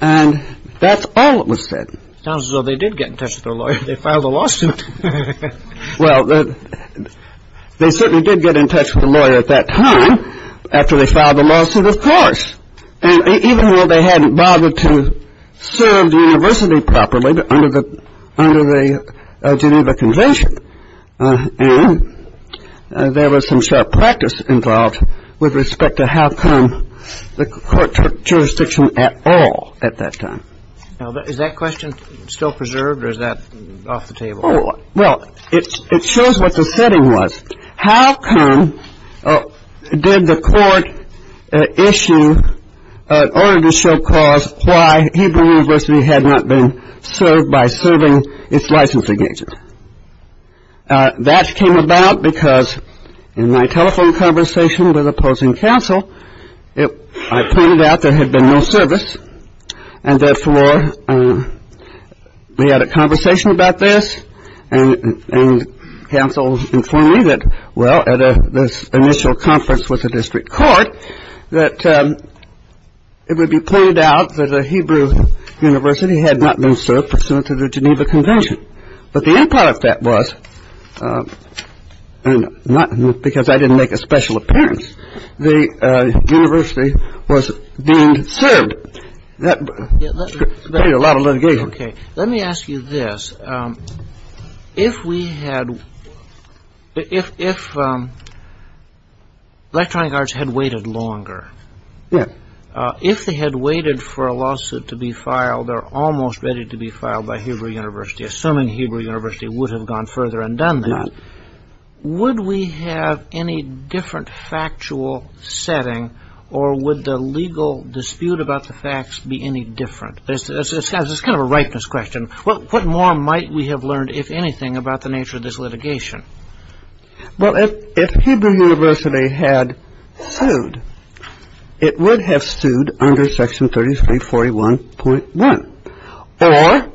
And that's all that was said. Sounds as though they did get in touch with their lawyer. They filed a lawsuit. Well, they certainly did get in touch with their lawyer at that time, after they filed the lawsuit, of course. And even though they hadn't bothered to serve the university properly under the Geneva Convention, And there was some sharp practice involved with respect to how come the court took jurisdiction at all at that time. Now, is that question still preserved, or is that off the table? Well, it shows what the setting was. How come did the court issue an order to show cause why Hebrew University had not been served by serving its license against it? That came about because in my telephone conversation with opposing counsel, I pointed out there had been no service, and therefore we had a conversation about this, and counsel informed me that, well, at this initial conference with the district court, that it would be pointed out that the Hebrew University had not been served pursuant to the Geneva Convention. But the end product of that was, and not because I didn't make a special appearance, the university was being served. That created a lot of litigation. Okay. Let me ask you this. If we had, if electronic arts had waited longer, if they had waited for a lawsuit to be filed, or almost ready to be filed by Hebrew University, assuming Hebrew University would have gone further and done that, would we have any different factual setting, or would the legal dispute about the facts be any different? It's kind of a ripeness question. What more might we have learned, if anything, about the nature of this litigation? Well, if Hebrew University had sued, it would have sued under Section 3341.1. Or,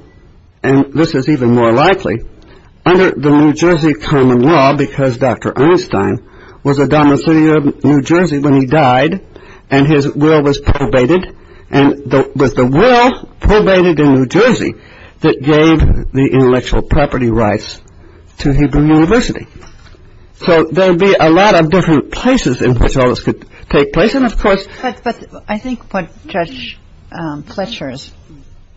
and this is even more likely, under the New Jersey common law, because Dr. Einstein was a domicilee of New Jersey when he died, and his will was probated, and it was the will probated in New Jersey that gave the intellectual property rights to Hebrew University. So there would be a lot of different places in which all this could take place. And, of course, But I think what Judge Fletcher is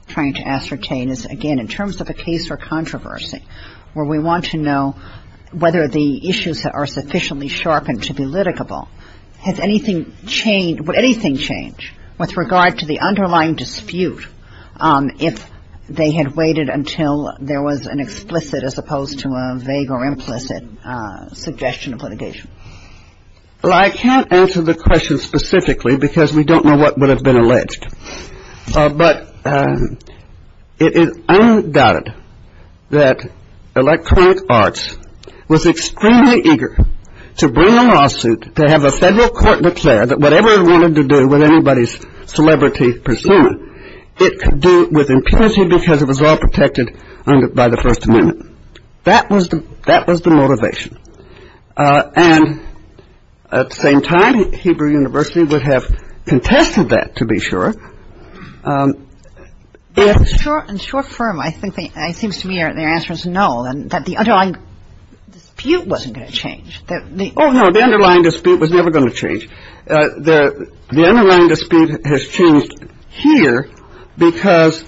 trying to ascertain is, again, in terms of a case for controversy, where we want to know whether the issues that are sufficiently sharpened to be litigable, has anything changed, would anything change with regard to the underlying dispute, if they had waited until there was an explicit, as opposed to a vague or implicit, suggestion of litigation? Well, I can't answer the question specifically, because we don't know what would have been alleged. But it is undoubted that Electronic Arts was extremely eager to bring a lawsuit, to have a federal court declare that whatever it wanted to do with anybody's celebrity persona, it could do with impunity because it was all protected by the First Amendment. That was the motivation. And at the same time, Hebrew University would have contested that, to be sure. In short form, it seems to me their answer is no, that the underlying dispute wasn't going to change. Oh, no, the underlying dispute was never going to change. The underlying dispute has changed here because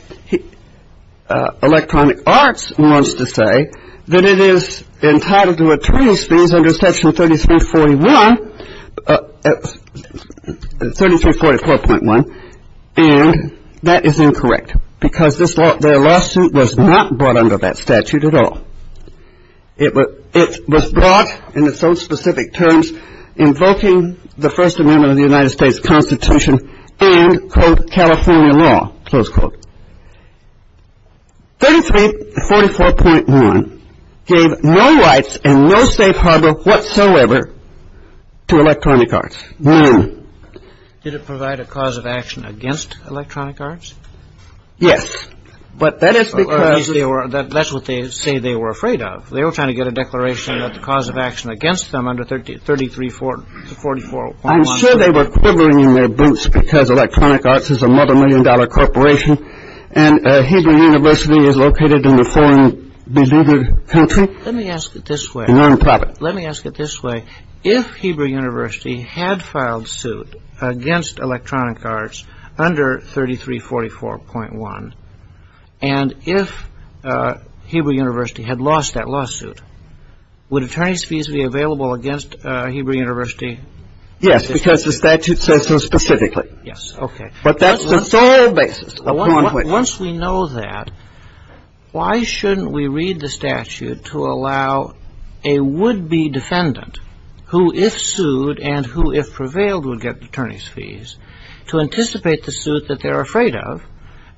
Electronic Arts wants to say that it is entitled to attorney's fees under Section 3341, 3344.1, and that is incorrect because their lawsuit was not brought under that statute at all. It was brought in its own specific terms invoking the First Amendment of the United States Constitution and, quote, California law, close quote. 3344.1 gave no rights and no safe harbor whatsoever to Electronic Arts. None. Did it provide a cause of action against Electronic Arts? Yes. That's what they say they were afraid of. They were trying to get a declaration of the cause of action against them under 3344.1. I'm sure they were quivering in their boots because Electronic Arts is a multimillion-dollar corporation and Hebrew University is located in a foreign-believed country. Let me ask it this way. A nonprofit. Let me ask it this way. If Hebrew University had filed suit against Electronic Arts under 3344.1 and if Hebrew University had lost that lawsuit, would attorney's fees be available against Hebrew University? Yes, because the statute says so specifically. Yes. Okay. But that's the sole basis. Once we know that, why shouldn't we read the statute to allow a would-be defendant, who if sued and who if prevailed would get attorney's fees, to anticipate the suit that they're afraid of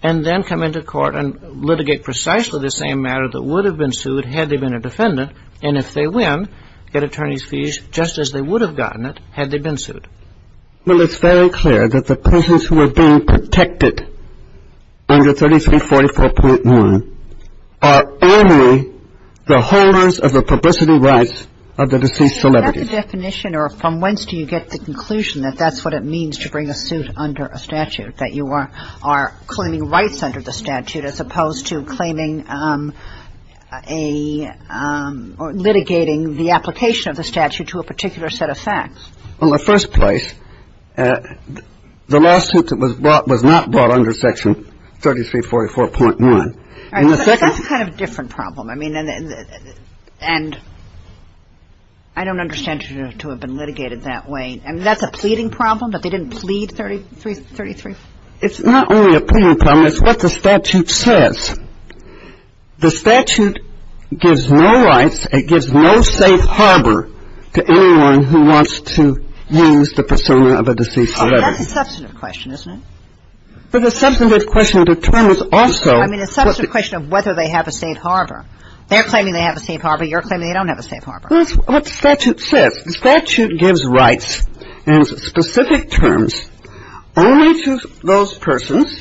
and then come into court and litigate precisely the same matter that would have been sued had they been a defendant and if they win, get attorney's fees just as they would have gotten it had they been sued? Well, it's very clear that the patients who are being protected under 3344.1 are only the holders of the publicity rights of the deceased celebrity. Is that the definition or from whence do you get the conclusion that that's what it means to bring a suit under a statute, that you are claiming rights under the statute as opposed to claiming a or litigating the application of the statute to a particular set of facts? Well, in the first place, the lawsuit that was brought was not brought under Section 3344.1. All right. That's a kind of different problem. I mean, and I don't understand to have been litigated that way. I mean, that's a pleading problem that they didn't plead 33? It's not only a pleading problem. It's what the statute says. The statute gives no rights, it gives no safe harbor to anyone who wants to use the persona of a deceased celebrity. Oh, that's a substantive question, isn't it? But the substantive question determines also what the ---- I mean, it's a substantive question of whether they have a safe harbor. They're claiming they have a safe harbor. You're claiming they don't have a safe harbor. That's what the statute says. The statute gives rights in specific terms only to those persons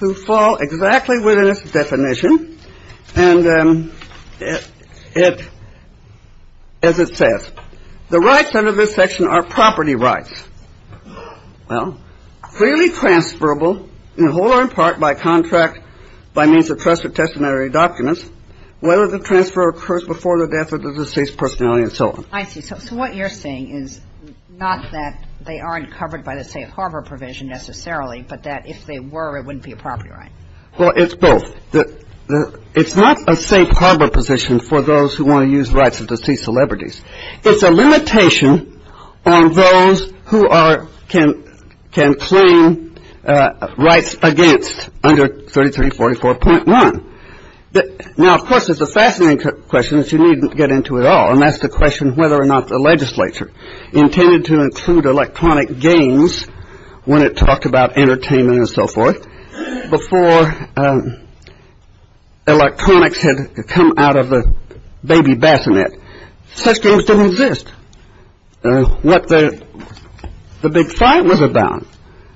who fall exactly within its definition. And as it says, the rights under this section are property rights. Well, freely transferable in whole or in part by contract by means of trusted testamentary documents, whether the transfer occurs before the death of the deceased personality and so on. I see. So what you're saying is not that they aren't covered by the safe harbor provision necessarily, but that if they were, it wouldn't be a property right. Well, it's both. It's not a safe harbor position for those who want to use rights of deceased celebrities. It's a limitation on those who are ---- can claim rights against under 3344.1. Now, of course, it's a fascinating question that you needn't get into at all, and that's the question whether or not the legislature intended to include electronic games when it talked about entertainment and so forth before electronics had come out of the baby bassinet. Such games didn't exist. What the big fight was about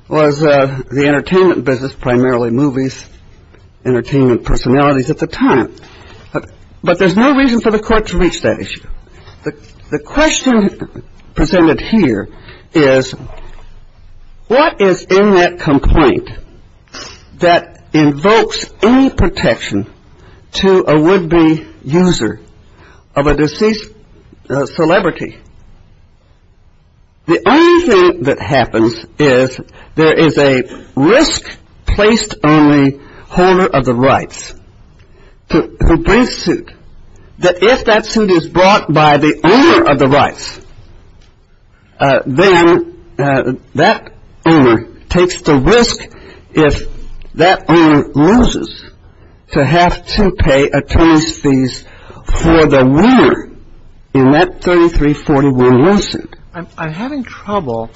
was the entertainment business, primarily movies, entertainment personalities at the time. But there's no reason for the court to reach that issue. The question presented here is what is in that complaint that invokes any protection to a would-be user of a deceased celebrity? The only thing that happens is there is a risk placed on the holder of the rights to bring suit that if that suit is brought by the owner of the rights, then that owner takes the risk if that owner loses to have to pay attorney's fees for the winner in that 33411 suit. I'm having trouble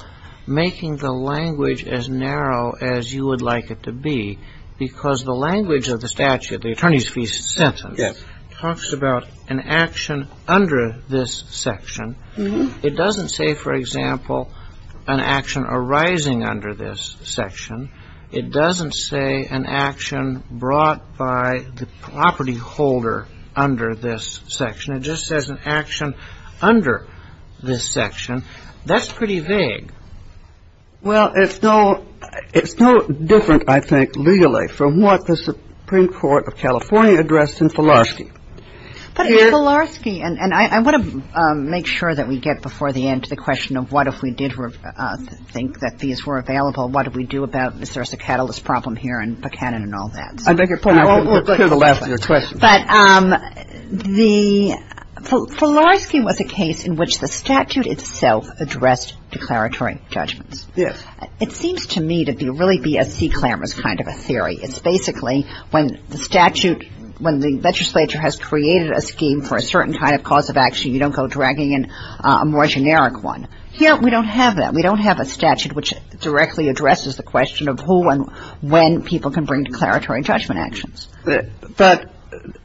making the language as narrow as you would like it to be because the language of the statute, the attorney's fee sentence, talks about an action under this section. It doesn't say, for example, an action arising under this section. It doesn't say an action brought by the property holder under this section. It just says an action under this section. That's pretty vague. Well, it's no different, I think, legally from what the Supreme Court of California addressed in Filarski. But in Filarski, and I want to make sure that we get before the end to the question of what if we did think that these were available, what do we do about this? There's a catalyst problem here in Buchanan and all that. I beg your pardon. We'll clear the last of your questions. But the Filarski was a case in which the statute itself addressed declaratory judgments. Yes. It seems to me to really be a sea clamorous kind of a theory. It's basically when the statute, when the legislature has created a scheme for a certain kind of cause of action, you don't go dragging in a more generic one. Here, we don't have that. We don't have a statute which directly addresses the question of who and when people can bring declaratory judgment actions. But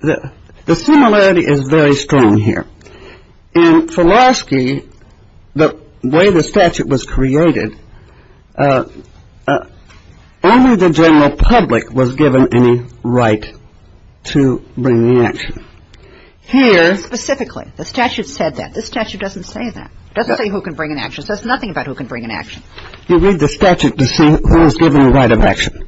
the similarity is very strong here. In Filarski, the way the statute was created, only the general public was given any right to bring the action. Here. Specifically. The statute said that. This statute doesn't say that. It doesn't say who can bring an action. It says nothing about who can bring an action. You read the statute to see who is given the right of action.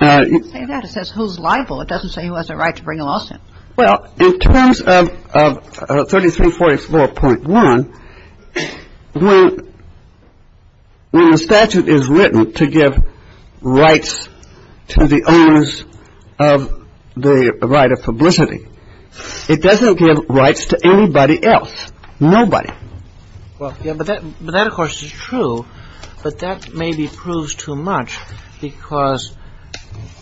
It doesn't say that. It says who's liable. It doesn't say who has a right to bring a lawsuit. Well, in terms of 3344.1, when the statute is written to give rights to the owners of the right of publicity, it doesn't give rights to anybody else. Nobody. But that, of course, is true. But that maybe proves too much because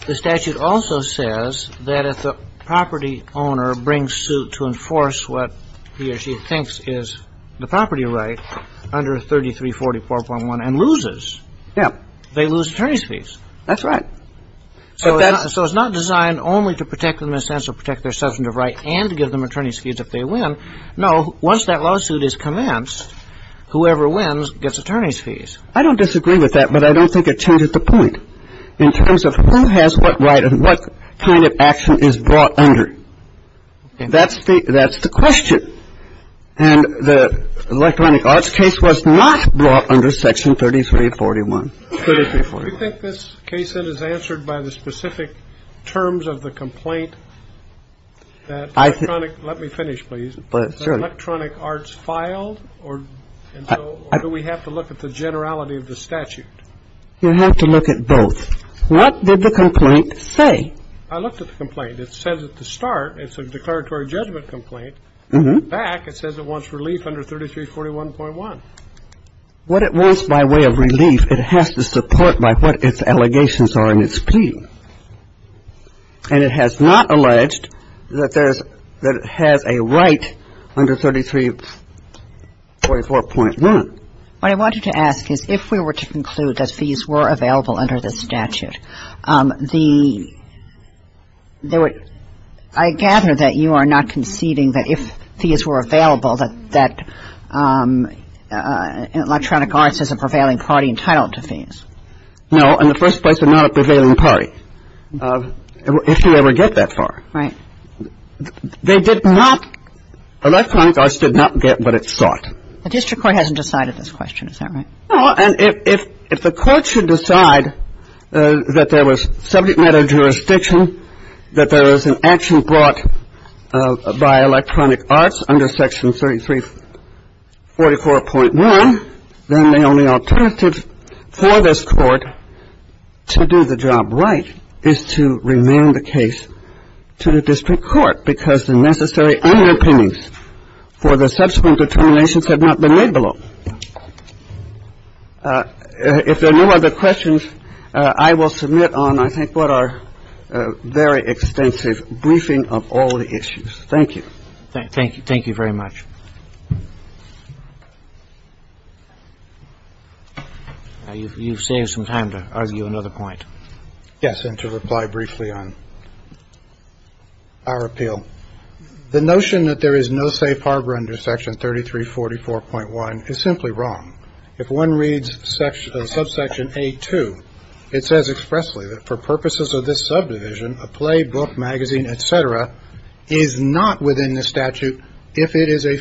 the statute also says that if the property owner brings suit to enforce what he or she thinks is the property right under 3344.1 and loses, they lose attorney's fees. That's right. So it's not designed only to protect them in a sense or protect their substantive right and give them attorney's fees if they win. No. Once that lawsuit is commenced, whoever wins gets attorney's fees. I don't disagree with that. But I don't think it changes the point in terms of who has what right and what kind of action is brought under. That's the question. And the Electronic Arts case was not brought under Section 3341. Do you think this case is answered by the specific terms of the complaint? Let me finish, please. Was the Electronic Arts filed or do we have to look at the generality of the statute? You have to look at both. What did the complaint say? I looked at the complaint. It says at the start it's a declaratory judgment complaint. In fact, it says it wants relief under 3341.1. What it wants by way of relief, it has to support by what its allegations are in its plea. And it has not alleged that there's – that it has a right under 3344.1. What I wanted to ask is if we were to conclude that fees were available under the statute, the – I gather that you are not conceding that if fees were available that Electronic Arts is a prevailing party entitled to fees. No. In the first place, they're not a prevailing party if you ever get that far. Right. They did not – Electronic Arts did not get what it sought. The district court hasn't decided this question. Is that right? No. And if the court should decide that there was subject matter jurisdiction, that there was an action brought by Electronic Arts under section 3344.1, then the only alternative for this court to do the job right is to remain the case to the district court because the necessary underpinnings for the subsequent determinations have not been laid below. If there are no other questions, I will submit on, I think, what our very extensive briefing of all the issues. Thank you. Thank you. Thank you very much. You've saved some time to argue another point. Yes, and to reply briefly on our appeal. The notion that there is no safe harbor under section 3344.1 is simply wrong. If one reads subsection A2, it says expressly that for purposes of this subdivision, a play, book, magazine, et cetera, is not within the statute if it is an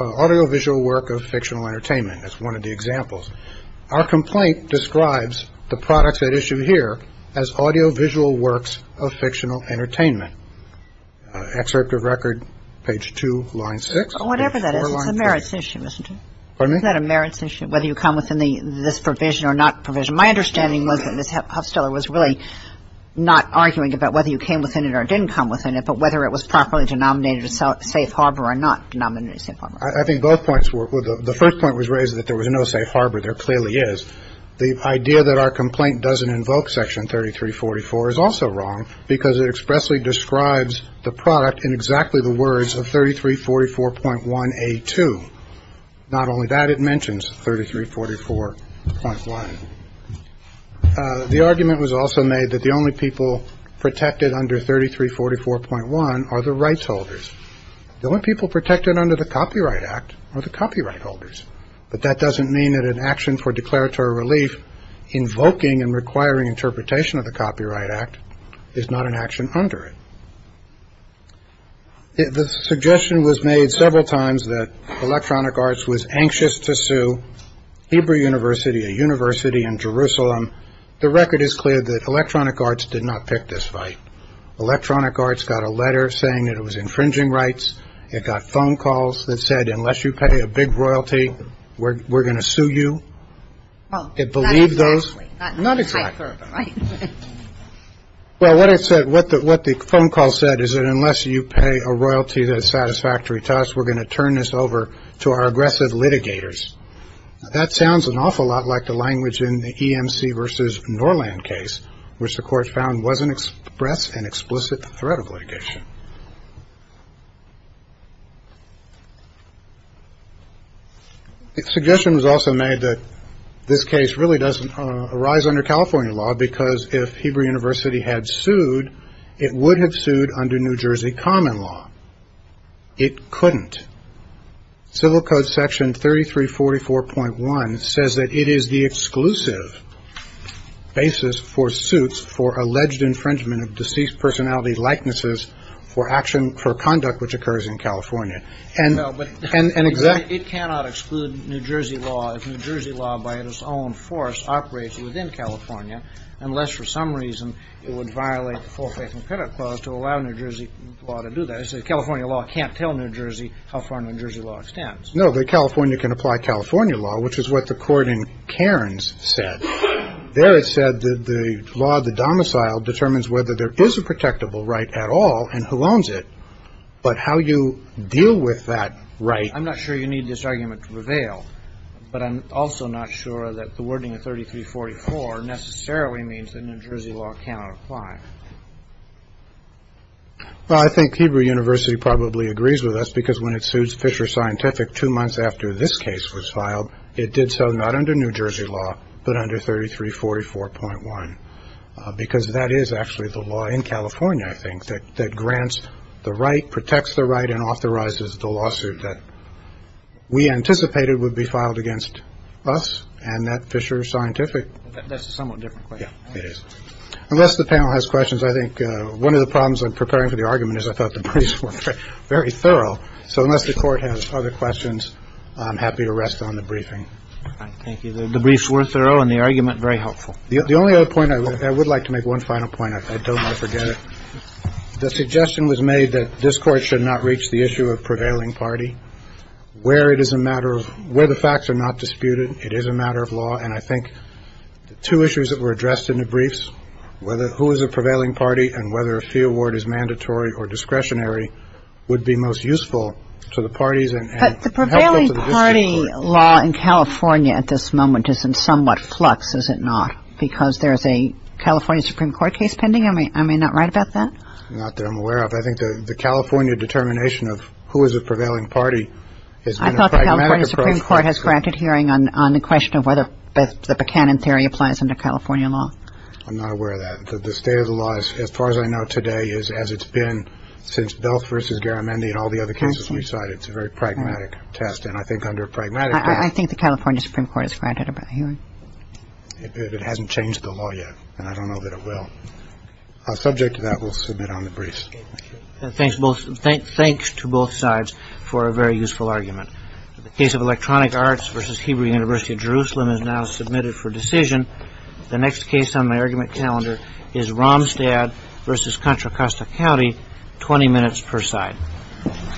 audiovisual work of fictional entertainment. That's one of the examples. Our complaint describes the products at issue here as audiovisual works of fictional entertainment. Excerpt of record, page 2, line 6. Whatever that is, it's a merits issue, isn't it? Pardon me? Isn't that a merits issue, whether you come within this provision or not provision? My understanding was that Ms. Huffsteller was really not arguing about whether you came within it or didn't come within it, but whether it was properly denominated a safe harbor or not denominated a safe harbor. I think both points were the first point was raised that there was no safe harbor. There clearly is the idea that our complaint doesn't invoke Section 3344 is also wrong because it expressly describes the product in exactly the words of 3344.1A2. Not only that, it mentions 3344.1. The argument was also made that the only people protected under 3344.1 are the rights holders. The only people protected under the Copyright Act are the copyright holders. But that doesn't mean that an action for declaratory relief invoking and requiring interpretation of the Copyright Act is not an action under it. The suggestion was made several times that Electronic Arts was anxious to sue Hebrew University, a university in Jerusalem. The record is clear that Electronic Arts did not pick this fight. Electronic Arts got a letter saying that it was infringing rights. It got phone calls that said unless you pay a big royalty, we're going to sue you. It believed those. Not exactly. Not exactly. Right. Well, what it said, what the phone call said is that unless you pay a royalty that is satisfactory to us, we're going to turn this over to our aggressive litigators. That sounds an awful lot like the language in the EMC versus Norland case, which the court found wasn't expressed an explicit threat of litigation. The suggestion was also made that this case really doesn't arise under California law, because if Hebrew University had sued, it would have sued under New Jersey common law. It couldn't. Civil Code Section 3344.1 says that it is the exclusive basis for suits for alleged infringement of deceased personality likenesses for action for conduct which occurs in California. And it cannot exclude New Jersey law if New Jersey law by its own force operates within California, unless for some reason it would violate the full faith and credit clause to allow New Jersey law to do that. So California law can't tell New Jersey how far New Jersey law extends. No, the California can apply California law, which is what the court in Cairns said. There it said that the law, the domicile determines whether there is a protectable right at all and who owns it. But how you deal with that right. I'm not sure you need this argument to prevail, but I'm also not sure that the wording of 3344 necessarily means that New Jersey law cannot apply. Well, I think Hebrew University probably agrees with us, because when it suits Fisher Scientific two months after this case was filed, it did so not under New Jersey law, but under 3344.1, because that is actually the law in California. I think that that grants the right protects the right and authorizes the lawsuit that we anticipated would be filed against us. And that Fisher Scientific, that's a somewhat different question. Unless the panel has questions, I think one of the problems in preparing for the argument is I thought the briefs were very thorough. So unless the court has other questions, I'm happy to rest on the briefing. The briefs were thorough and the argument very helpful. The only other point I would like to make one final point. I don't want to forget it. The suggestion was made that this court should not reach the issue of prevailing party where it is a matter of where the facts are not disputed. It is a matter of law. And I think the two issues that were addressed in the briefs, whether who is a prevailing party and whether a fee award is mandatory or discretionary would be most useful to the parties. But the prevailing party law in California at this moment is in somewhat flux, is it not? Because there is a California Supreme Court case pending. I mean, I may not write about that. Not that I'm aware of. I think the California determination of who is a prevailing party. I thought the California Supreme Court has granted hearing on the question of whether the Buchanan theory applies under California law. I'm not aware of that. The state of the law, as far as I know today, is as it's been since both versus Garamendi and all the other cases. We saw it. It's a very pragmatic test. And I think under pragmatic. I think the California Supreme Court is granted a hearing. It hasn't changed the law yet. And I don't know that it will subject to that. We'll submit on the briefs. Thanks to both sides for a very useful argument. The case of Electronic Arts versus Hebrew University of Jerusalem is now submitted for decision. The next case on my argument calendar is Romstad versus Contra Costa County. Twenty minutes per side.